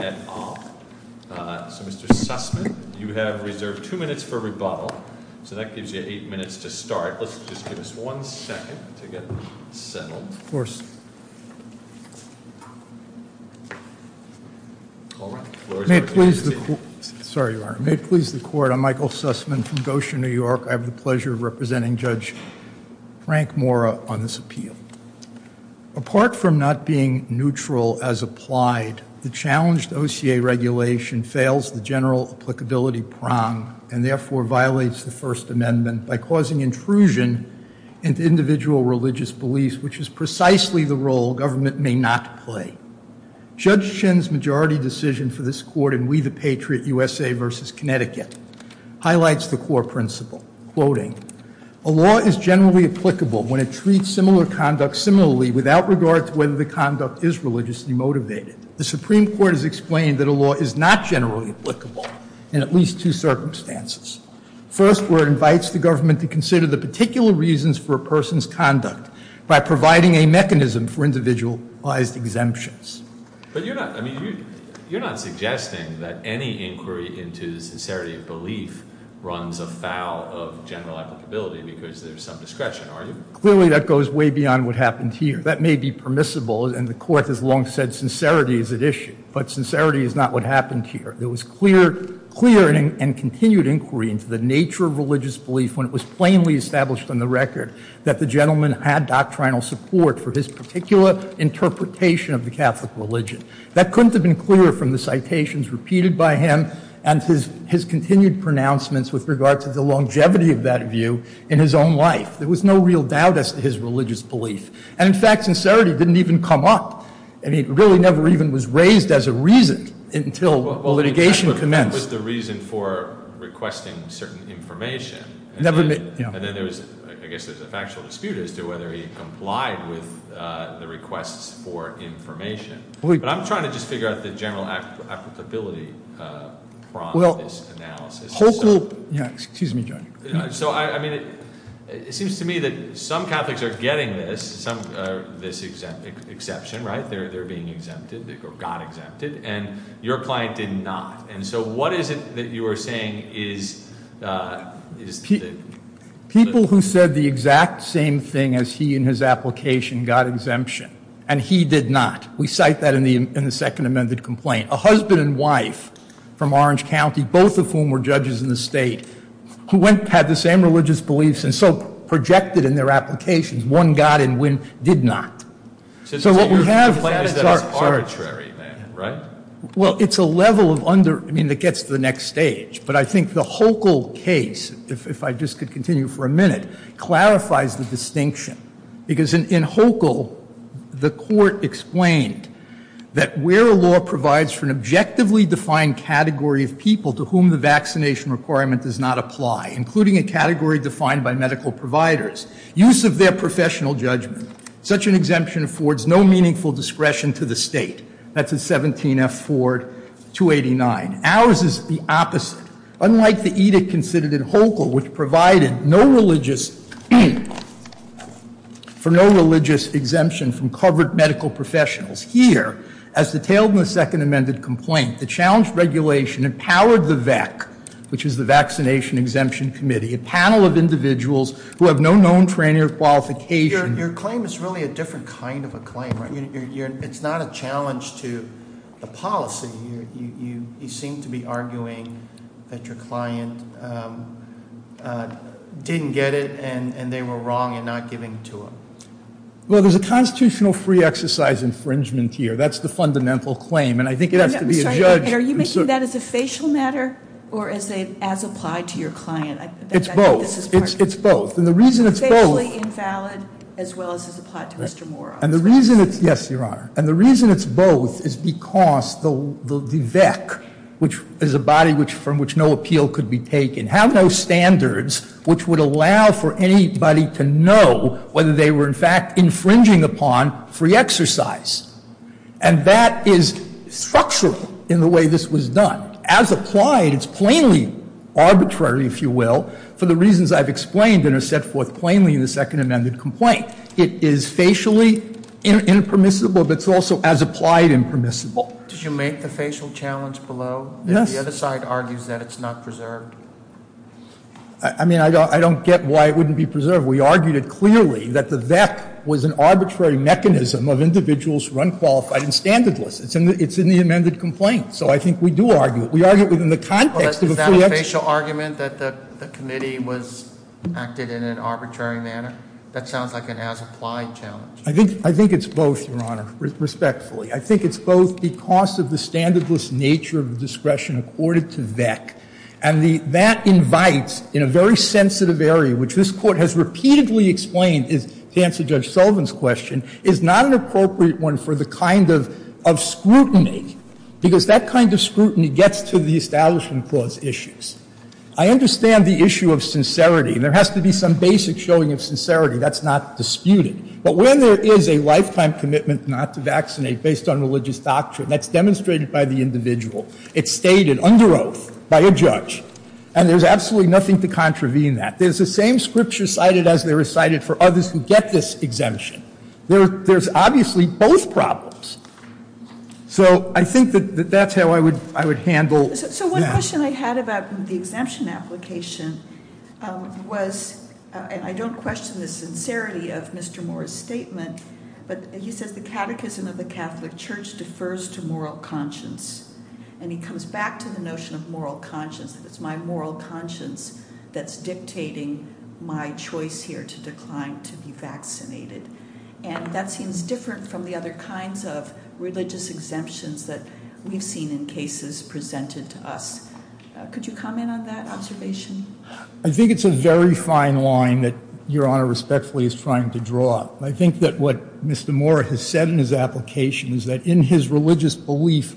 and off. So, Mr. Sussman, you have reserved two minutes for rebuttal, so that gives you eight minutes to start. Let's just give us one second to get settled. May it please the Court, I'm Michael Sussman from Goshen, New York. I have the pleasure of representing Judge Frank Mora on this appeal. Apart from not being neutral as applied, the challenged OCA regulation fails the general applicability prong and therefore violates the First Amendment by causing intrusion into individual religious beliefs, which is precisely the role government may not play. Judge Chin's majority decision for this Court in We the Connecticut highlights the core principle, quoting, A law is generally applicable when it treats similar conduct similarly without regard to whether the conduct is religiously motivated. The Supreme Court has explained that a law is not generally applicable in at least two circumstances. First, where it invites the government to consider the particular reasons for a person's conduct by providing a mechanism for individualized exemptions. But you're not, I mean, you're not suggesting that any inquiry into the sincerity of belief runs afoul of general applicability because there's some discretion, are you? Clearly that goes way beyond what happened here. That may be permissible, and the Court has long said sincerity is at issue. But sincerity is not what happened here. There was clear and continued inquiry into the nature of religious belief when it was plainly established on the record that the gentleman had doctrinal support for his particular interpretation of the Catholic religion. That couldn't have been clearer from the citations repeated by him and his continued pronouncements with regard to the longevity of that view in his own life. There was no real doubt as to his religious belief. And in fact, sincerity didn't even come up. I mean, it really never even was raised as a reason until litigation commenced. That was the reason for requesting certain information. And then there was, I guess there's a factual dispute as to whether he complied with the requests for information. But I'm trying to just figure out the general applicability problem of this analysis. Yeah, excuse me, John. So, I mean, it seems to me that some Catholics are getting this, this exception, right? They're being exempted, or got exempted, and your client did not. And so what is it that you are saying is- People who said the exact same thing as he in his application got exemption, and he did not. We cite that in the second amended complaint. A husband and wife from Orange County, both of whom were judges in the state, who had the same religious beliefs and so projected in their applications, one got and one did not. So what we have- The plan is that it's arbitrary then, right? Well, it's a level of under- I mean, it gets to the next stage. But I think the Hochul case, if I just could continue for a minute, clarifies the distinction. Because in Hochul, the court explained that where a law provides for an objectively defined category of people to whom the vaccination requirement does not apply, including a category defined by medical providers, use of their professional judgment, such an exemption affords no meaningful discretion to the state. That's at 17F Ford 289. Ours is the opposite. Unlike the edict considered in Hochul, which provided for no religious exemption from covered medical professionals, here, as detailed in the second amended complaint, the challenge regulation empowered the VEC, which is the Vaccination Exemption Committee, a panel of individuals who have no known training or qualification- Your claim is really a different kind of a claim, right? It's not a challenge to the policy. You seem to be arguing that your client didn't get it and they were wrong in not giving to him. Well, there's a constitutional free exercise infringement here. That's the fundamental claim. And I think it has to be a judge- Or is it as applied to your client? It's both. It's both. And the reason it's both- Officially invalid as well as as applied to Mr. Mora. Yes, Your Honor. And the reason it's both is because the VEC, which is a body from which no appeal could be taken, have no standards which would allow for anybody to know whether they were, in fact, infringing upon free exercise. And that is structural in the way this was done. As applied, it's plainly arbitrary, if you will, for the reasons I've explained and are set forth plainly in the second amended complaint. It is facially impermissible, but it's also as applied impermissible. Did you make the facial challenge below? Yes. The other side argues that it's not preserved. I mean, I don't get why it wouldn't be preserved. We argued it clearly that the VEC was an arbitrary mechanism of individuals who are unqualified and standardless. It's in the amended complaint. So I think we do argue it. We argue it within the context of a free exercise. Is that a facial argument that the committee was acted in an arbitrary manner? That sounds like an as-applied challenge. I think it's both, Your Honor, respectfully. I think it's both because of the standardless nature of discretion accorded to VEC. And that invites, in a very sensitive area, which this Court has repeatedly explained, to answer Judge Sullivan's question, is not an appropriate one for the kind of scrutiny, because that kind of scrutiny gets to the Establishment Clause issues. I understand the issue of sincerity, and there has to be some basic showing of sincerity. That's not disputed. But when there is a lifetime commitment not to vaccinate based on religious doctrine, that's demonstrated by the individual. It's stated under oath by a judge, and there's absolutely nothing to contravene that. There's the same scripture cited as they recited for others who get this exemption. There's obviously both problems. So I think that that's how I would handle that. So one question I had about the exemption application was, and I don't question the sincerity of Mr. Moore's statement, but he says the catechism of the Catholic Church defers to moral conscience. And he comes back to the notion of moral conscience. It's my moral conscience that's dictating my choice here to decline to be vaccinated. And that seems different from the other kinds of religious exemptions that we've seen in cases presented to us. Could you comment on that observation? I think it's a very fine line that Your Honor respectfully is trying to draw. I think that what Mr. Moore has said in his application is that in his religious belief,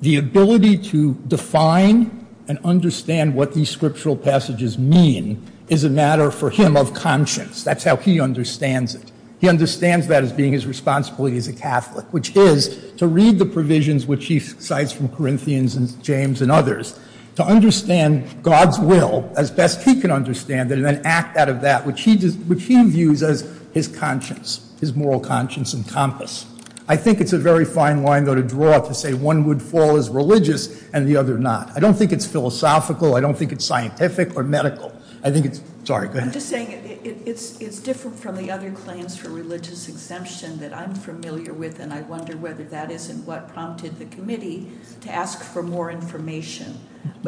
the ability to define and understand what these scriptural passages mean is a matter for him of conscience. That's how he understands it. He understands that as being his responsibility as a Catholic, which is to read the provisions which he cites from Corinthians and James and others, to understand God's will as best he can understand it and then act out of that, which he views as his conscience, his moral conscience and compass. I think it's a very fine line, though, to draw to say one would fall as religious and the other not. I don't think it's philosophical. I don't think it's scientific or medical. I think it's, sorry, go ahead. I'm just saying it's different from the other claims for religious exemption that I'm familiar with, and I wonder whether that isn't what prompted the committee to ask for more information.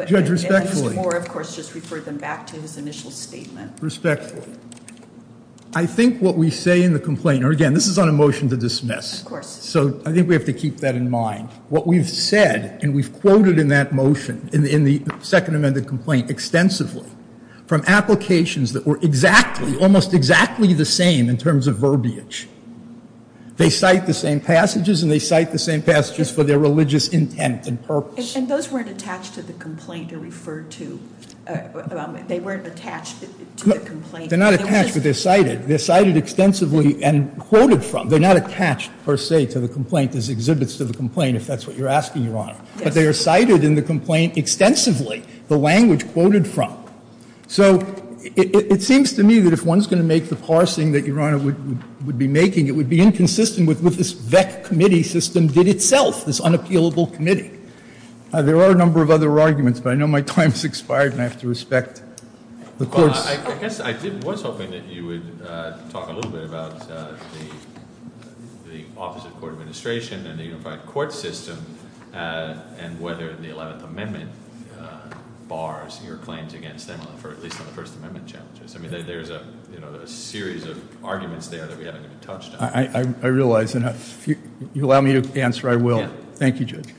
Judge, respectfully. Mr. Moore, of course, just referred them back to his initial statement. Respectfully. I think what we say in the complaint, or again, this is on a motion to dismiss. Of course. So I think we have to keep that in mind. What we've said and we've quoted in that motion, in the second amended complaint extensively, from applications that were exactly, almost exactly the same in terms of verbiage. They cite the same passages and they cite the same passages for their religious intent and purpose. And those weren't attached to the complaint or referred to? They weren't attached to the complaint? They're not attached, but they're cited. They're cited extensively and quoted from. They're not attached, per se, to the complaint as exhibits to the complaint, if that's what you're asking, Your Honor. But they are cited in the complaint extensively, the language quoted from. So it seems to me that if one's going to make the parsing that Your Honor would be making, it would be inconsistent with what this VEC committee system did itself, this unappealable committee. There are a number of other arguments, but I know my time has expired and I have to respect the court's. Well, I guess I was hoping that you would talk a little bit about the Office of Court Administration and the unified court system and whether the 11th Amendment bars your claims against them, at least on the First Amendment challenges. I mean, there's a series of arguments there that we haven't even touched on. I realize. If you allow me to answer, I will. Thank you, Judge.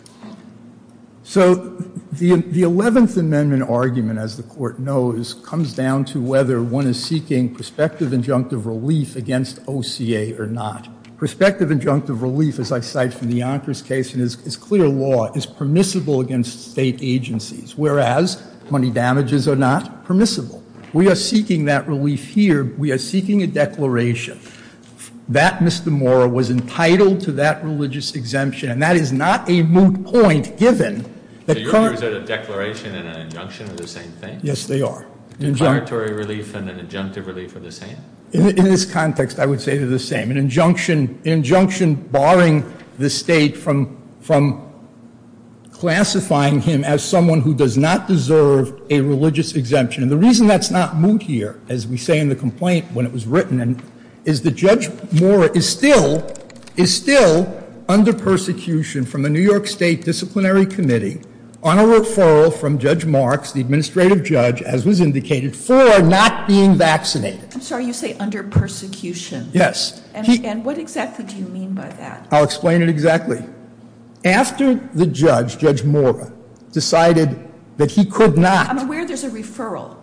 So the 11th Amendment argument, as the court knows, comes down to whether one is seeking prospective injunctive relief against OCA or not. Prospective injunctive relief, as I cite from the Yonkers case, is clear law, is permissible against state agencies, whereas money damages are not permissible. We are seeking that relief here. We are seeking a declaration that Mr. Mora was entitled to that religious exemption. And that is not a moot point, given that Congress. So you're saying a declaration and an injunction are the same thing? Yes, they are. A declaratory relief and an injunctive relief are the same? In this context, I would say they're the same. An injunction barring the state from classifying him as someone who does not deserve a religious exemption. And the reason that's not moot here, as we say in the complaint when it was written, is that Judge Mora is still under persecution from the New York State Disciplinary Committee on a referral from Judge Marks, the administrative judge, as was indicated, for not being vaccinated. I'm sorry, you say under persecution? Yes. And what exactly do you mean by that? I'll explain it exactly. After the judge, Judge Mora, decided that he could not. I'm aware there's a referral.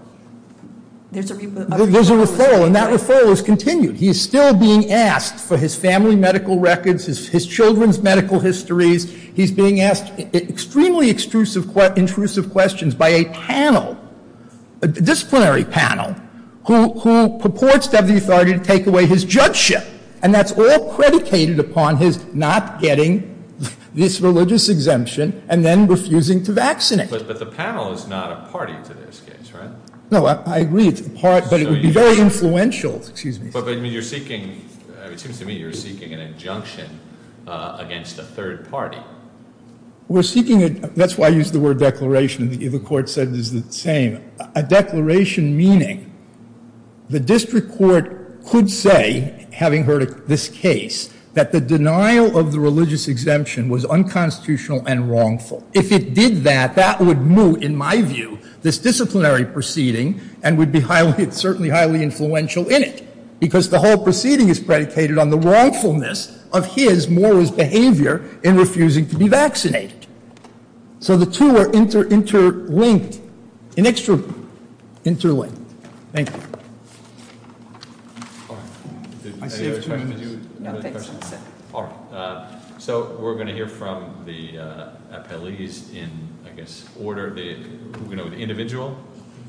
There's a referral, and that referral is continued. He is still being asked for his family medical records, his children's medical histories. He's being asked extremely intrusive questions by a panel, a disciplinary panel, who purports to have the authority to take away his judgeship. And that's all predicated upon his not getting this religious exemption and then refusing to vaccinate. But the panel is not a party to this case, right? No, I agree it's a party, but it would be very influential. Excuse me. But you're seeking, it seems to me you're seeking an injunction against a third party. We're seeking, that's why I used the word declaration. The court said it's the same. A declaration meaning the district court could say, having heard this case, that the denial of the religious exemption was unconstitutional and wrongful. If it did that, that would move, in my view, this disciplinary proceeding and would be certainly highly influential in it, because the whole proceeding is predicated on the wrongfulness of his, Mora's, behavior in refusing to be vaccinated. So the two are interlinked, an extra interlinked. Thank you. So we're going to hear from the appellees in, I guess, order, the individual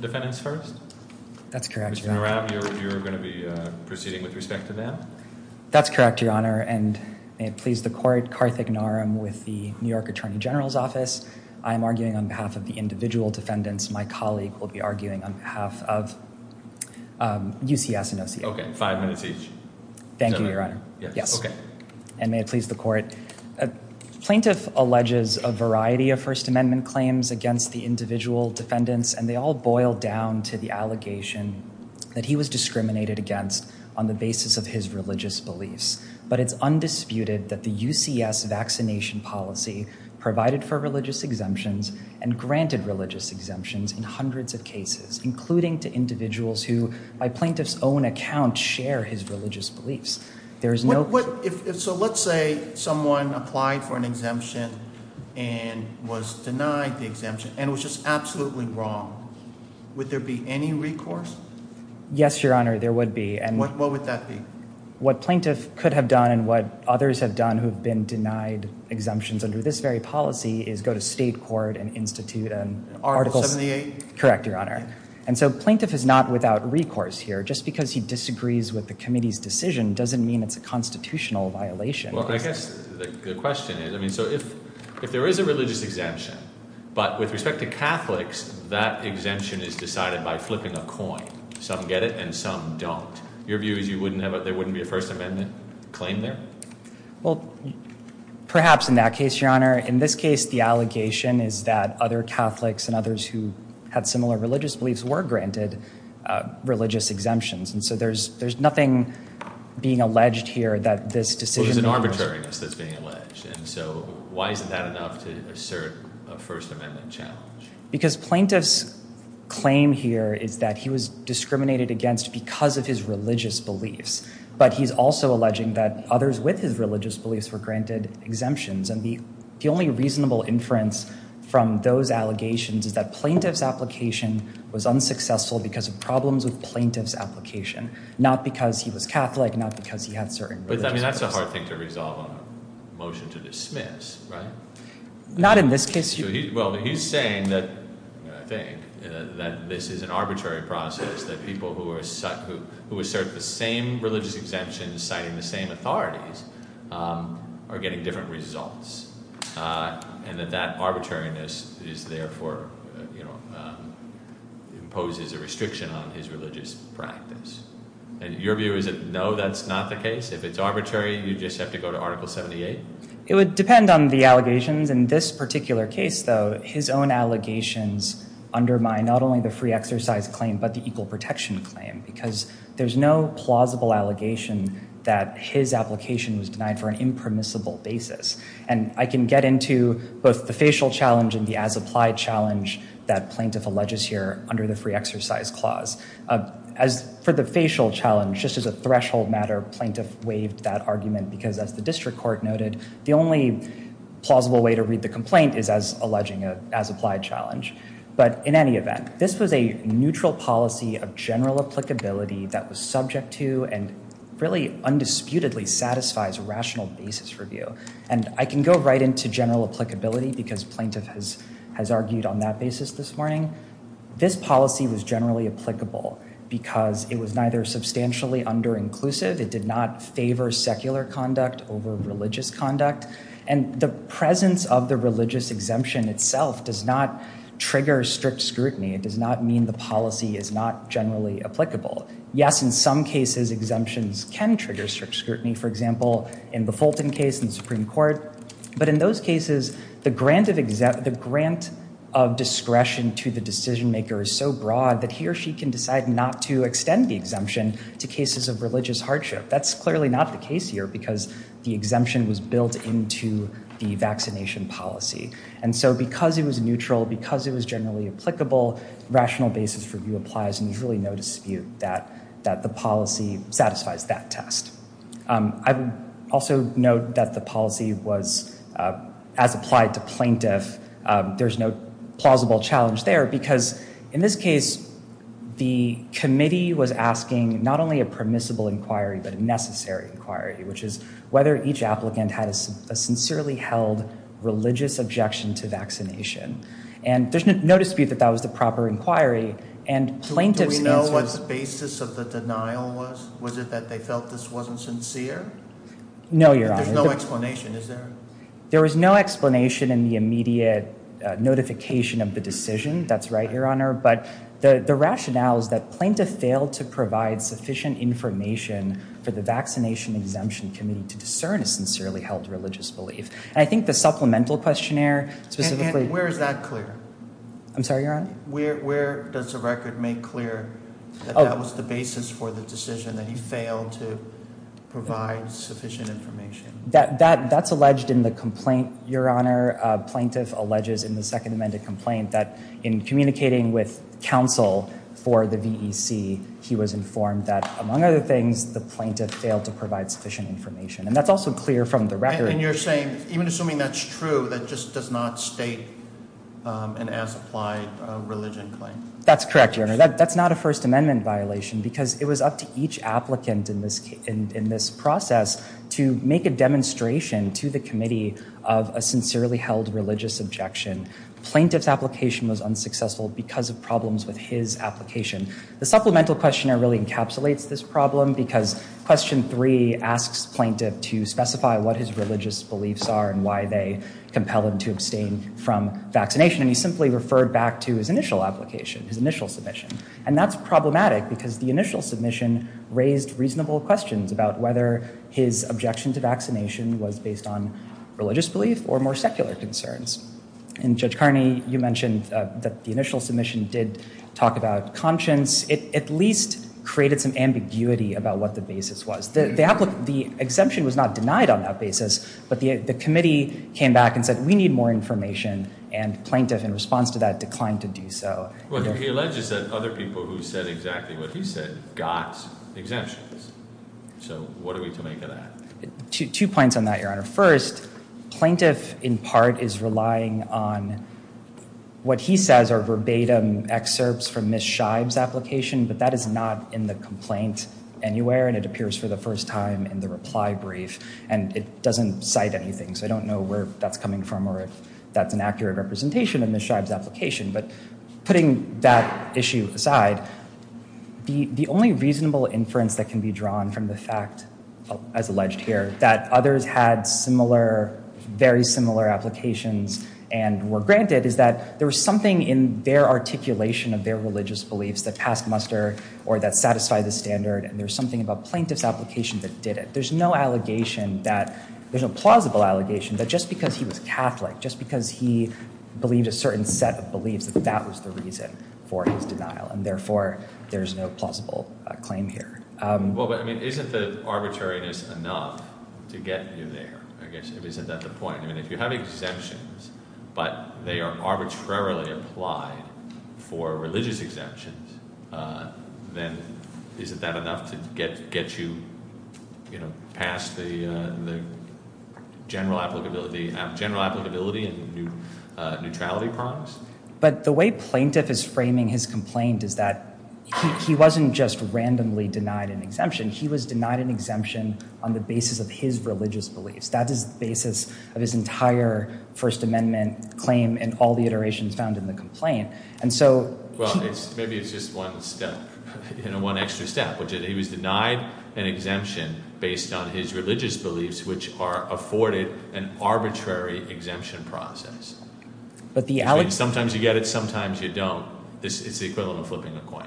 defendants first? That's correct, Your Honor. Mr. Murab, you're going to be proceeding with respect to that? That's correct, Your Honor. And may it please the court, Karthik Naram with the New York Attorney General's Office. I'm arguing on behalf of the individual defendants. My colleague will be arguing on behalf of UCS and OCA. Okay, five minutes each. Thank you, Your Honor. Yes. Okay. And may it please the court. Plaintiff alleges a variety of First Amendment claims against the individual defendants, and they all boil down to the allegation that he was discriminated against on the basis of his religious beliefs. But it's undisputed that the UCS vaccination policy provided for religious exemptions and granted religious exemptions in hundreds of cases, including to individuals who, by plaintiff's own account, share his religious beliefs. So let's say someone applied for an exemption and was denied the exemption and was just absolutely wrong. Would there be any recourse? Yes, Your Honor, there would be. What would that be? What plaintiff could have done and what others have done who have been denied exemptions under this very policy is go to state court and institute an article. Correct, Your Honor. And so plaintiff is not without recourse here. Just because he disagrees with the committee's decision doesn't mean it's a constitutional violation. Well, I guess the question is, I mean, so if there is a religious exemption, but with respect to Catholics, that exemption is decided by flipping a coin. Some get it and some don't. Your view is there wouldn't be a First Amendment claim there? Well, perhaps in that case, Your Honor. In this case, the allegation is that other Catholics and others who had similar religious beliefs were granted religious exemptions. And so there's nothing being alleged here that this decision- Well, there's an arbitrariness that's being alleged. And so why isn't that enough to assert a First Amendment challenge? Because plaintiff's claim here is that he was discriminated against because of his religious beliefs. But he's also alleging that others with his religious beliefs were granted exemptions. And the only reasonable inference from those allegations is that plaintiff's application was unsuccessful because of problems with plaintiff's application, not because he was Catholic, not because he had certain religious beliefs. But that's a hard thing to resolve on a motion to dismiss, right? Not in this case. Well, he's saying that, I think, that this is an arbitrary process, that people who assert the same religious exemptions citing the same authorities are getting different results. And that that arbitrariness is therefore, you know, imposes a restriction on his religious practice. And your view is that, no, that's not the case? If it's arbitrary, you just have to go to Article 78? It would depend on the allegations. In this particular case, though, his own allegations undermine not only the free exercise claim, but the equal protection claim because there's no plausible allegation that his application was denied for an impermissible basis. And I can get into both the facial challenge and the as-applied challenge that plaintiff alleges here under the free exercise clause. As for the facial challenge, just as a threshold matter, plaintiff waived that argument because, as the district court noted, the only plausible way to read the complaint is as alleging an as-applied challenge. But in any event, this was a neutral policy of general applicability that was subject to and really undisputedly satisfies a rational basis review. And I can go right into general applicability because plaintiff has argued on that basis this morning. This policy was generally applicable because it was neither substantially under-inclusive, it did not favor secular conduct over religious conduct, and the presence of the religious exemption itself does not trigger strict scrutiny. It does not mean the policy is not generally applicable. Yes, in some cases exemptions can trigger strict scrutiny. For example, in the Fulton case in the Supreme Court. But in those cases, the grant of discretion to the decision-maker is so broad that he or she can decide not to extend the exemption to cases of religious hardship. That's clearly not the case here because the exemption was built into the vaccination policy. And so because it was neutral, because it was generally applicable, rational basis review applies and there's really no dispute that the policy satisfies that test. I would also note that the policy was as applied to plaintiff. There's no plausible challenge there because, in this case, the committee was asking not only a permissible inquiry but a necessary inquiry, which is whether each applicant had a sincerely held religious objection to vaccination. And there's no dispute that that was the proper inquiry. Do we know what the basis of the denial was? Was it that they felt this wasn't sincere? No, Your Honor. There's no explanation, is there? There was no explanation in the immediate notification of the decision. That's right, Your Honor. But the rationale is that plaintiff failed to provide sufficient information for the vaccination exemption committee to discern a sincerely held religious belief. And I think the supplemental questionnaire specifically— And where is that clear? I'm sorry, Your Honor? Where does the record make clear that that was the basis for the decision, that he failed to provide sufficient information? That's alleged in the complaint, Your Honor. Plaintiff alleges in the Second Amendment complaint that, in communicating with counsel for the VEC, he was informed that, among other things, the plaintiff failed to provide sufficient information. And that's also clear from the record. And you're saying, even assuming that's true, that just does not state an as-applied religion claim? That's correct, Your Honor. That's not a First Amendment violation because it was up to each applicant in this process to make a demonstration to the committee of a sincerely held religious objection. Plaintiff's application was unsuccessful because of problems with his application. The supplemental questionnaire really encapsulates this problem because Question 3 asks plaintiff to specify what his religious beliefs are and why they compel him to abstain from vaccination. And he simply referred back to his initial application, his initial submission. And that's problematic because the initial submission raised reasonable questions about whether his objection to vaccination was based on religious belief or more secular concerns. And, Judge Carney, you mentioned that the initial submission did talk about conscience. It at least created some ambiguity about what the basis was. The exemption was not denied on that basis, but the committee came back and said, we need more information, and plaintiff, in response to that, declined to do so. Well, he alleges that other people who said exactly what he said got exemptions. So what are we to make of that? Two points on that, Your Honor. First, plaintiff, in part, is relying on what he says are verbatim excerpts from Ms. Scheib's application, but that is not in the complaint anywhere, and it appears for the first time in the reply brief. And it doesn't cite anything, so I don't know where that's coming from or if that's an accurate representation of Ms. Scheib's application. But putting that issue aside, the only reasonable inference that can be drawn from the fact, as alleged here, that others had similar, very similar applications and were granted is that there was something in their articulation of their religious beliefs that passed muster or that satisfied the standard, and there was something about plaintiff's application that did it. There's no allegation that, there's no plausible allegation that just because he was Catholic, just because he believed a certain set of beliefs, that that was the reason for his denial, and therefore there's no plausible claim here. Well, but, I mean, isn't the arbitrariness enough to get you there? I guess, isn't that the point? I mean, if you have exemptions, but they are arbitrarily applied for religious exemptions, then isn't that enough to get you past the general applicability and neutrality problems? But the way plaintiff is framing his complaint is that he wasn't just randomly denied an exemption. He was denied an exemption on the basis of his religious beliefs. That is the basis of his entire First Amendment claim and all the iterations found in the complaint. Well, maybe it's just one step, one extra step, which is he was denied an exemption based on his religious beliefs, which are afforded an arbitrary exemption process. Sometimes you get it, sometimes you don't. It's the equivalent of flipping a coin.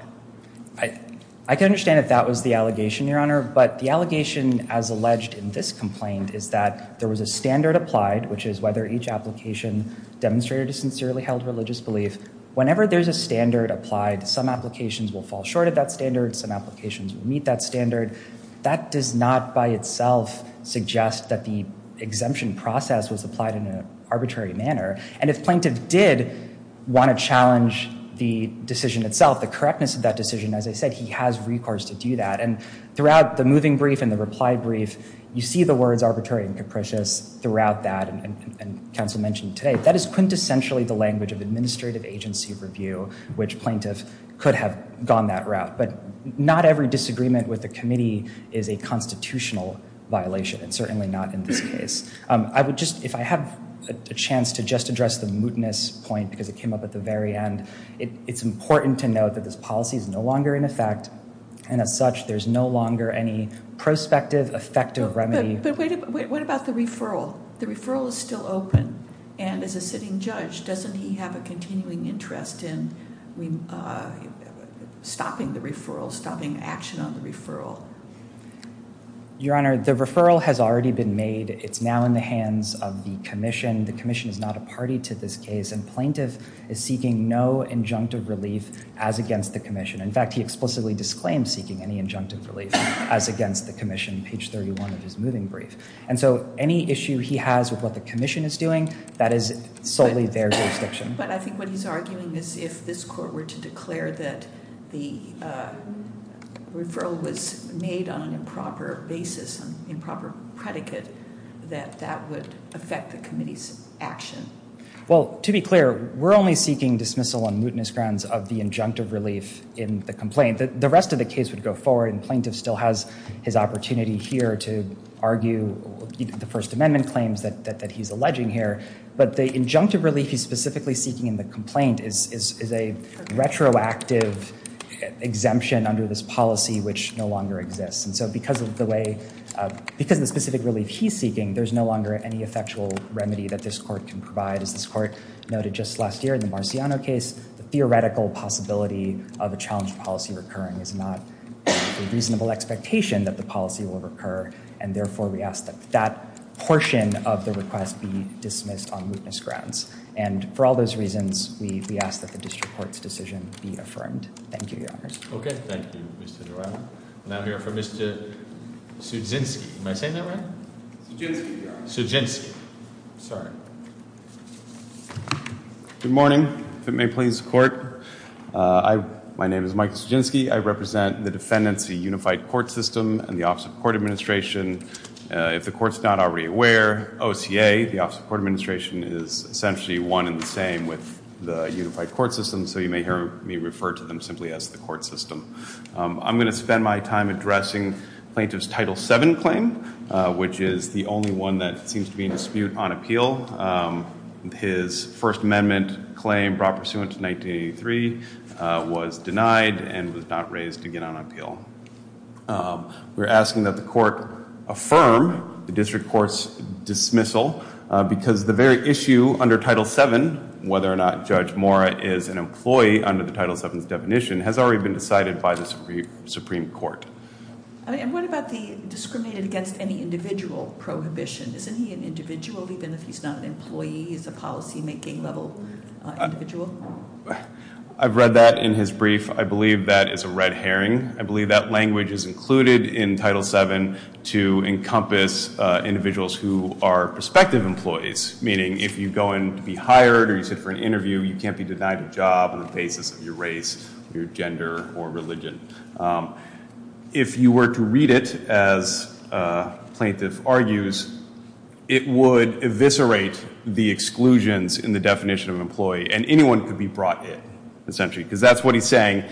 I can understand if that was the allegation, Your Honor, but the allegation as alleged in this complaint is that there was a standard applied, which is whether each application demonstrated a sincerely held religious belief. Whenever there's a standard applied, some applications will fall short of that standard, some applications will meet that standard. That does not by itself suggest that the exemption process was applied in an arbitrary manner. And if plaintiff did want to challenge the decision itself, the correctness of that decision, as I said, he has recourse to do that. And throughout the moving brief and the reply brief, you see the words arbitrary and capricious throughout that, and counsel mentioned today, that is quintessentially the language of administrative agency review, which plaintiff could have gone that route. But not every disagreement with the committee is a constitutional violation, and certainly not in this case. If I have a chance to just address the mootness point, because it came up at the very end, it's important to note that this policy is no longer in effect, and as such, there's no longer any prospective effective remedy. But what about the referral? The referral is still open, and as a sitting judge, doesn't he have a continuing interest in stopping the referral, stopping action on the referral? Your Honor, the referral has already been made. It's now in the hands of the commission. The commission is not a party to this case, and plaintiff is seeking no injunctive relief as against the commission. In fact, he explicitly disclaimed seeking any injunctive relief as against the commission, page 31 of his moving brief. And so any issue he has with what the commission is doing, that is solely their jurisdiction. But I think what he's arguing is if this court were to declare that the referral was made on an improper basis, an improper predicate, that that would affect the committee's action. Well, to be clear, we're only seeking dismissal on mootness grounds of the injunctive relief in the complaint. The rest of the case would go forward, and plaintiff still has his opportunity here to argue the First Amendment claims that he's alleging here. But the injunctive relief he's specifically seeking in the complaint is a retroactive exemption under this policy which no longer exists. And so because of the specific relief he's seeking, there's no longer any effectual remedy that this court can provide. As this court noted just last year in the Marciano case, the theoretical possibility of a challenged policy recurring is not a reasonable expectation that the policy will recur. And therefore, we ask that that portion of the request be dismissed on mootness grounds. And for all those reasons, we ask that the district court's decision be affirmed. Thank you, Your Honors. Okay. Thank you, Mr. Dorado. And I'm here for Mr. Sudzinski. Am I saying that right? Sudzinski, Your Honor. Sudzinski. Sorry. Good morning. If it may please the court, my name is Mike Sudzinski. I represent the Defendancy Unified Court System and the Office of Court Administration. If the court's not already aware, OCA, the Office of Court Administration, is essentially one and the same with the Unified Court System, so you may hear me refer to them simply as the court system. I'm going to spend my time addressing Plaintiff's Title VII claim, which is the only one that seems to be in dispute on appeal. His First Amendment claim brought pursuant to 1983 was denied and was not raised again on appeal. We're asking that the court affirm the district court's dismissal because the very issue under Title VII, whether or not Judge Mora is an employee under the Title VII's definition, has already been decided by the Supreme Court. And what about the discriminated against any individual prohibition? Isn't he an individual even if he's not an employee? He's a policy making level individual? I've read that in his brief. I believe that is a red herring. I believe that language is included in Title VII to encompass individuals who are prospective employees, meaning if you go in to be hired or you sit for an interview, you can't be denied a job on the basis of your race, your gender, or religion. If you were to read it as Plaintiff argues, it would eviscerate the exclusions in the definition of employee and anyone could be brought in essentially because that's what he's saying.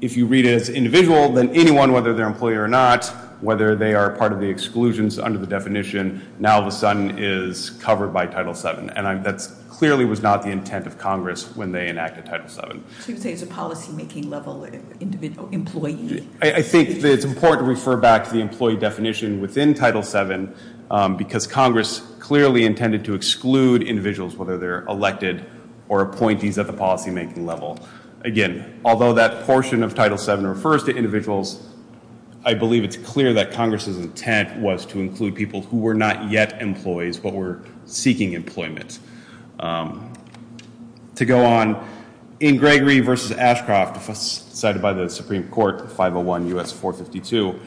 If you read it as individual, then anyone, whether they're an employee or not, whether they are part of the exclusions under the definition, now all of a sudden is covered by Title VII. And that clearly was not the intent of Congress when they enacted Title VII. So you're saying it's a policy making level employee? I think it's important to refer back to the employee definition within Title VII because Congress clearly intended to exclude individuals, whether they're elected or appointees at the policy making level. Again, although that portion of Title VII refers to individuals, I believe it's clear that Congress's intent was to include people who were not yet employees but were seeking employment. To go on, in Gregory v. Ashcroft, cited by the Supreme Court, 501 U.S. 452,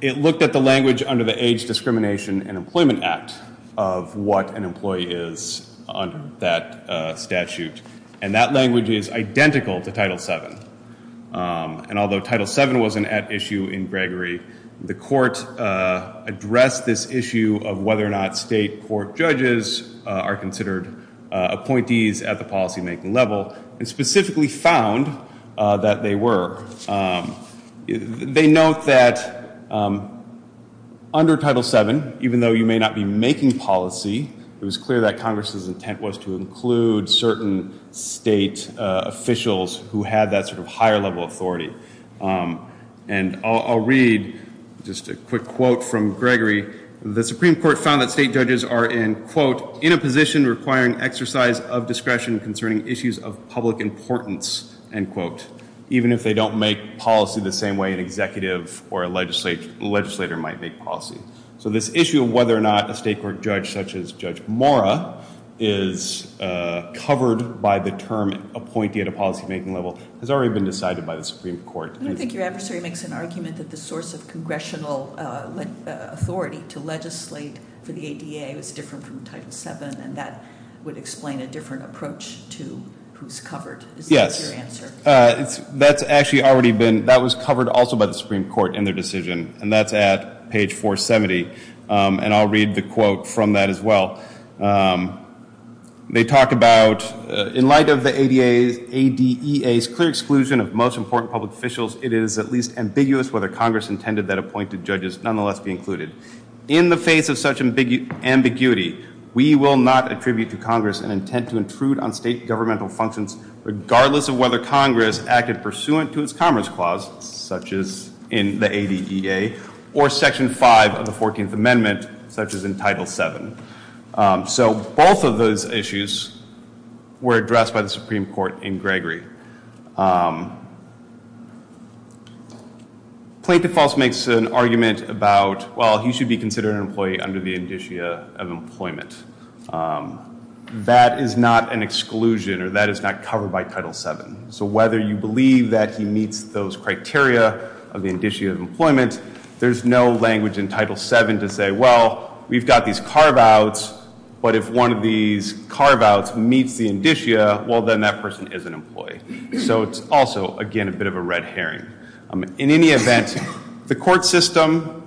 it looked at the language under the Age, Discrimination, and Employment Act of what an employee is under that statute. And that language is identical to Title VII. And although Title VII was an at issue in Gregory, the court addressed this issue of whether or not state court judges are considered appointees at the policy making level and specifically found that they were. They note that under Title VII, even though you may not be making policy, it was clear that Congress's intent was to include certain state officials who had that sort of higher level authority. And I'll read just a quick quote from Gregory. The Supreme Court found that state judges are in, quote, in a position requiring exercise of discretion concerning issues of public importance, end quote, even if they don't make policy the same way an executive or a legislator might make policy. So this issue of whether or not a state court judge, such as Judge Mora, is covered by the term appointee at a policy making level has already been decided by the Supreme Court. I don't think your adversary makes an argument that the source of congressional authority to legislate for the ADA was different from Title VII, and that would explain a different approach to who's covered. Yes. Is that your answer? That's actually already been, that was covered also by the Supreme Court in their decision, and that's at page 470, and I'll read the quote from that as well. They talk about, in light of the ADEA's clear exclusion of most important public officials, it is at least ambiguous whether Congress intended that appointed judges nonetheless be included. In the face of such ambiguity, we will not attribute to Congress an intent to intrude on state governmental functions, regardless of whether Congress acted pursuant to its Commerce Clause, such as in the ADEA, or Section 5 of the 14th Amendment, such as in Title VII. So both of those issues were addressed by the Supreme Court in Gregory. Plaintiff also makes an argument about, well, he should be considered an employee under the indicia of employment. That is not an exclusion, or that is not covered by Title VII. So whether you believe that he meets those criteria of the indicia of employment, there's no language in Title VII to say, well, we've got these carve-outs, but if one of these carve-outs meets the indicia, well, then that person is an employee. So it's also, again, a bit of a red herring. In any event, the court system,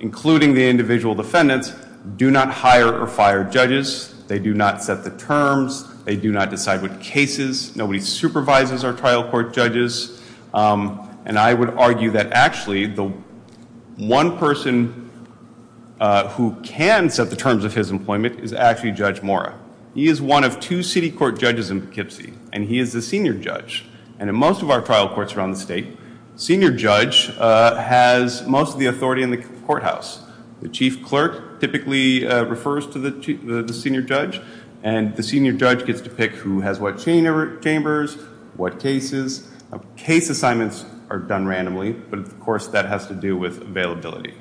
including the individual defendants, do not hire or fire judges. They do not set the terms. They do not decide what cases. Nobody supervises our trial court judges. And I would argue that actually the one person who can set the terms of his employment is actually Judge Mora. He is one of two city court judges in Poughkeepsie, and he is the senior judge. And in most of our trial courts around the state, senior judge has most of the authority in the courthouse. The chief clerk typically refers to the senior judge, and the senior judge gets to pick who has what chambers, what cases. Case assignments are done randomly, but, of course, that has to do with availability.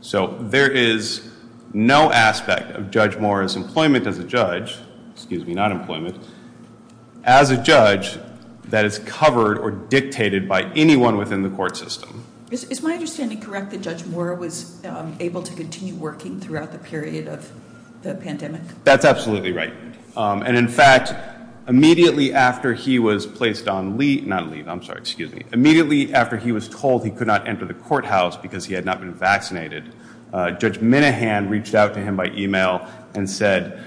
So there is no aspect of Judge Mora's employment as a judge, excuse me, not employment, as a judge that is covered or dictated by anyone within the court system. Is my understanding correct that Judge Mora was able to continue working throughout the period of the pandemic? That's absolutely right. And, in fact, immediately after he was placed on leave, not leave, I'm sorry, excuse me, immediately after he was told he could not enter the courthouse because he had not been vaccinated, Judge Minahan reached out to him by e-mail and said,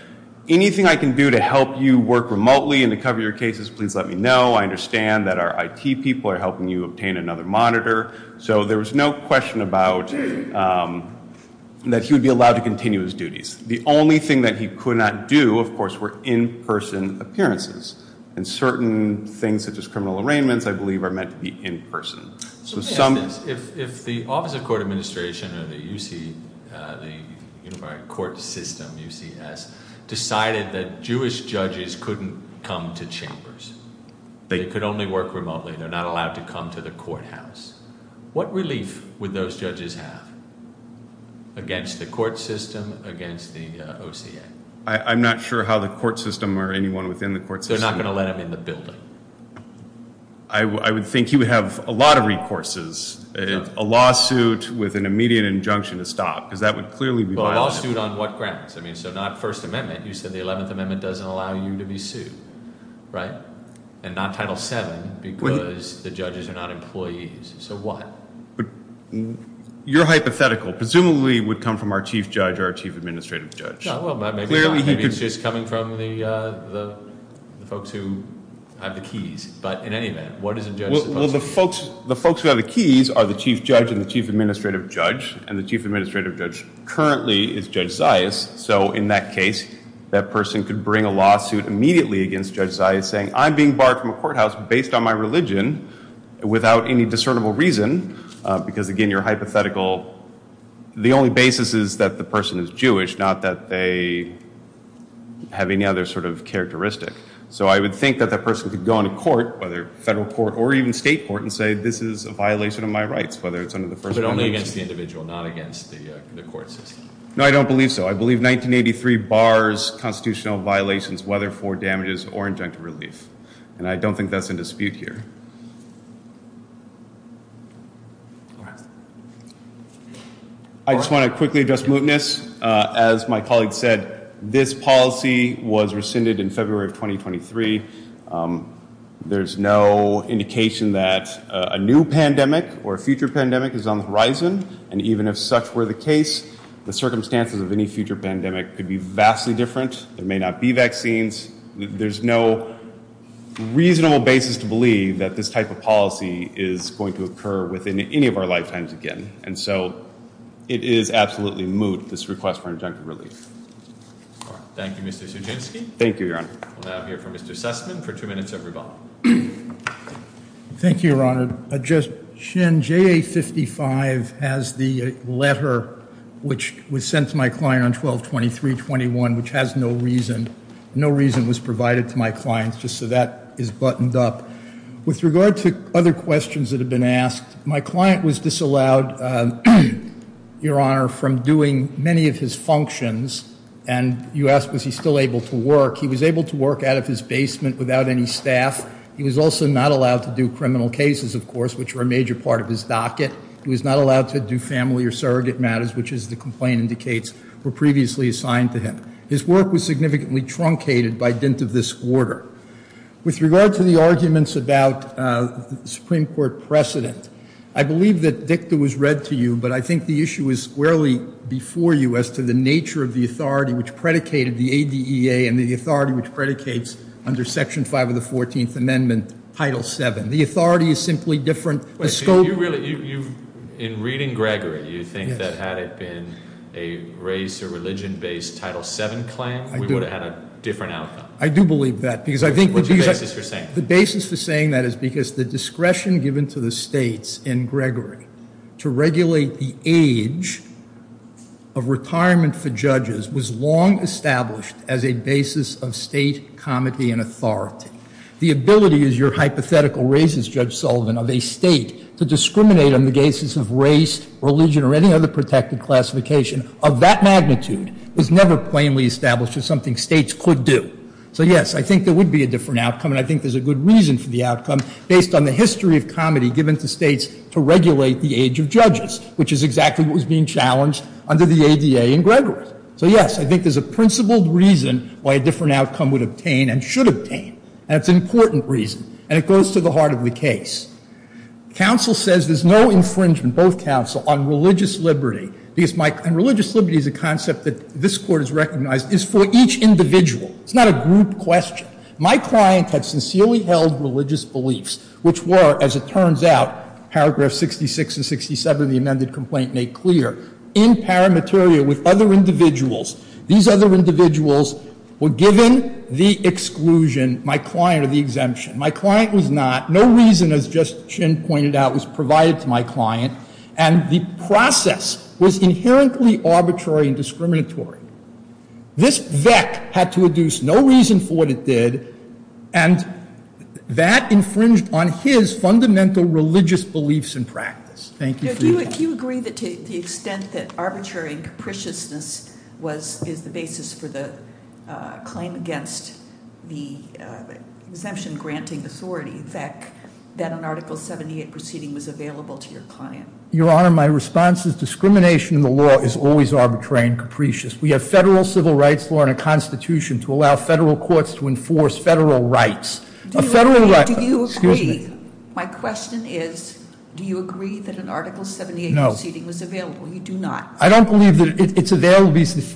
anything I can do to help you work remotely and to cover your cases, please let me know. I understand that our IT people are helping you obtain another monitor. So there was no question about that he would be allowed to continue his duties. The only thing that he could not do, of course, were in-person appearances. And certain things such as criminal arraignments, I believe, are meant to be in-person. So if the Office of Court Administration or the U.C., the court system, UCS, decided that Jewish judges couldn't come to chambers, they could only work remotely, they're not allowed to come to the courthouse, what relief would those judges have against the court system, against the OCA? I'm not sure how the court system or anyone within the court system. They're not going to let him in the building. I would think he would have a lot of recourses, a lawsuit with an immediate injunction to stop, because that would clearly be violent. Well, a lawsuit on what grounds? I mean, so not First Amendment. You said the 11th Amendment doesn't allow you to be sued, right? And not Title VII because the judges are not employees. So what? Your hypothetical presumably would come from our chief judge or our chief administrative judge. Maybe it's just coming from the folks who have the keys. But in any event, what is a judge supposed to do? Well, the folks who have the keys are the chief judge and the chief administrative judge, and the chief administrative judge currently is Judge Zayas. So in that case, that person could bring a lawsuit immediately against Judge Zayas saying, I'm being barred from a courthouse based on my religion without any discernible reason, because, again, your hypothetical, the only basis is that the person is Jewish, not that they have any other sort of characteristic. So I would think that that person could go into court, whether federal court or even state court, and say this is a violation of my rights, whether it's under the First Amendment. But only against the individual, not against the court system. No, I don't believe so. I believe 1983 bars constitutional violations, whether for damages or injunctive relief. And I don't think that's in dispute here. I just want to quickly address mootness. As my colleague said, this policy was rescinded in February of 2023. There's no indication that a new pandemic or a future pandemic is on the horizon. And even if such were the case, the circumstances of any future pandemic could be vastly different. There may not be vaccines. There's no reasonable basis to believe that this type of policy is going to occur within any of our lifetimes again. And so it is absolutely moot, this request for injunctive relief. Thank you, Mr. Suginski. Thank you, Your Honor. We'll now hear from Mr. Sussman for two minutes of rebuttal. Thank you, Your Honor. Shen, JA55 has the letter which was sent to my client on 12-23-21, which has no reason. No reason was provided to my client, just so that is buttoned up. With regard to other questions that have been asked, my client was disallowed, Your Honor, from doing many of his functions. And you asked was he still able to work. He was able to work out of his basement without any staff. He was also not allowed to do criminal cases, of course, which were a major part of his docket. He was not allowed to do family or surrogate matters, which, as the complaint indicates, were previously assigned to him. His work was significantly truncated by dint of this quarter. With regard to the arguments about the Supreme Court precedent, I believe that dicta was read to you, but I think the issue is squarely before you as to the nature of the authority which predicated the ADEA and the authority which predicates under Section 5 of the 14th Amendment, Title VII. The authority is simply different. In reading Gregory, you think that had it been a race or religion-based Title VII claim, we would have had a different outcome. I do believe that. What's the basis for saying that? The basis for saying that is because the discretion given to the states in Gregory to regulate the age of retirement for judges was long established as a basis of state comity and authority. The ability, as your hypothetical raises, Judge Sullivan, of a state to discriminate on the basis of race, religion, or any other protected classification of that magnitude is never plainly established as something states could do. So, yes, I think there would be a different outcome, and I think there's a good reason for the outcome, based on the history of comity given to states to regulate the age of judges, which is exactly what was being challenged under the ADEA in Gregory. So, yes, I think there's a principled reason why a different outcome would obtain and should obtain, and it's an important reason, and it goes to the heart of the case. Counsel says there's no infringement, both counsel, on religious liberty, and religious liberty is a concept that this Court has recognized is for each individual. It's not a group question. My client had sincerely held religious beliefs, which were, as it turns out, paragraph 66 and 67 of the amended complaint make clear, in paramateria with other individuals. These other individuals were given the exclusion, my client, or the exemption. My client was not. No reason, as Justice Chin pointed out, was provided to my client, and the process was inherently arbitrary and discriminatory. This VEC had to adduce no reason for what it did, and that infringed on his fundamental religious beliefs and practice. Thank you for your time. Do you agree that to the extent that arbitrary and capriciousness is the basis for the claim against the exemption-granting authority, VEC, that an Article 78 proceeding was available to your client? Your Honor, my response is discrimination in the law is always arbitrary and capricious. We have federal civil rights law and a constitution to allow federal courts to enforce federal rights. A federal right- Do you agree- My question is, do you agree that an Article 78 proceeding was available? You do not? I don't believe that it's available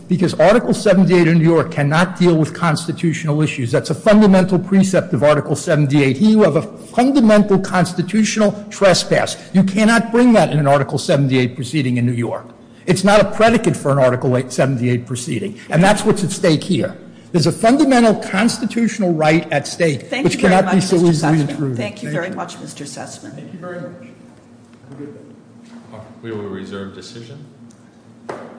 because Article 78 in New York cannot deal with constitutional issues. That's a fundamental precept of Article 78. Here you have a fundamental constitutional trespass. You cannot bring that in an Article 78 proceeding in New York. It's not a predicate for an Article 78 proceeding, and that's what's at stake here. There's a fundamental constitutional right at stake- Thank you very much, Mr. Sessman. Thank you very much, Mr. Sessman. Thank you very much. We will reserve decision.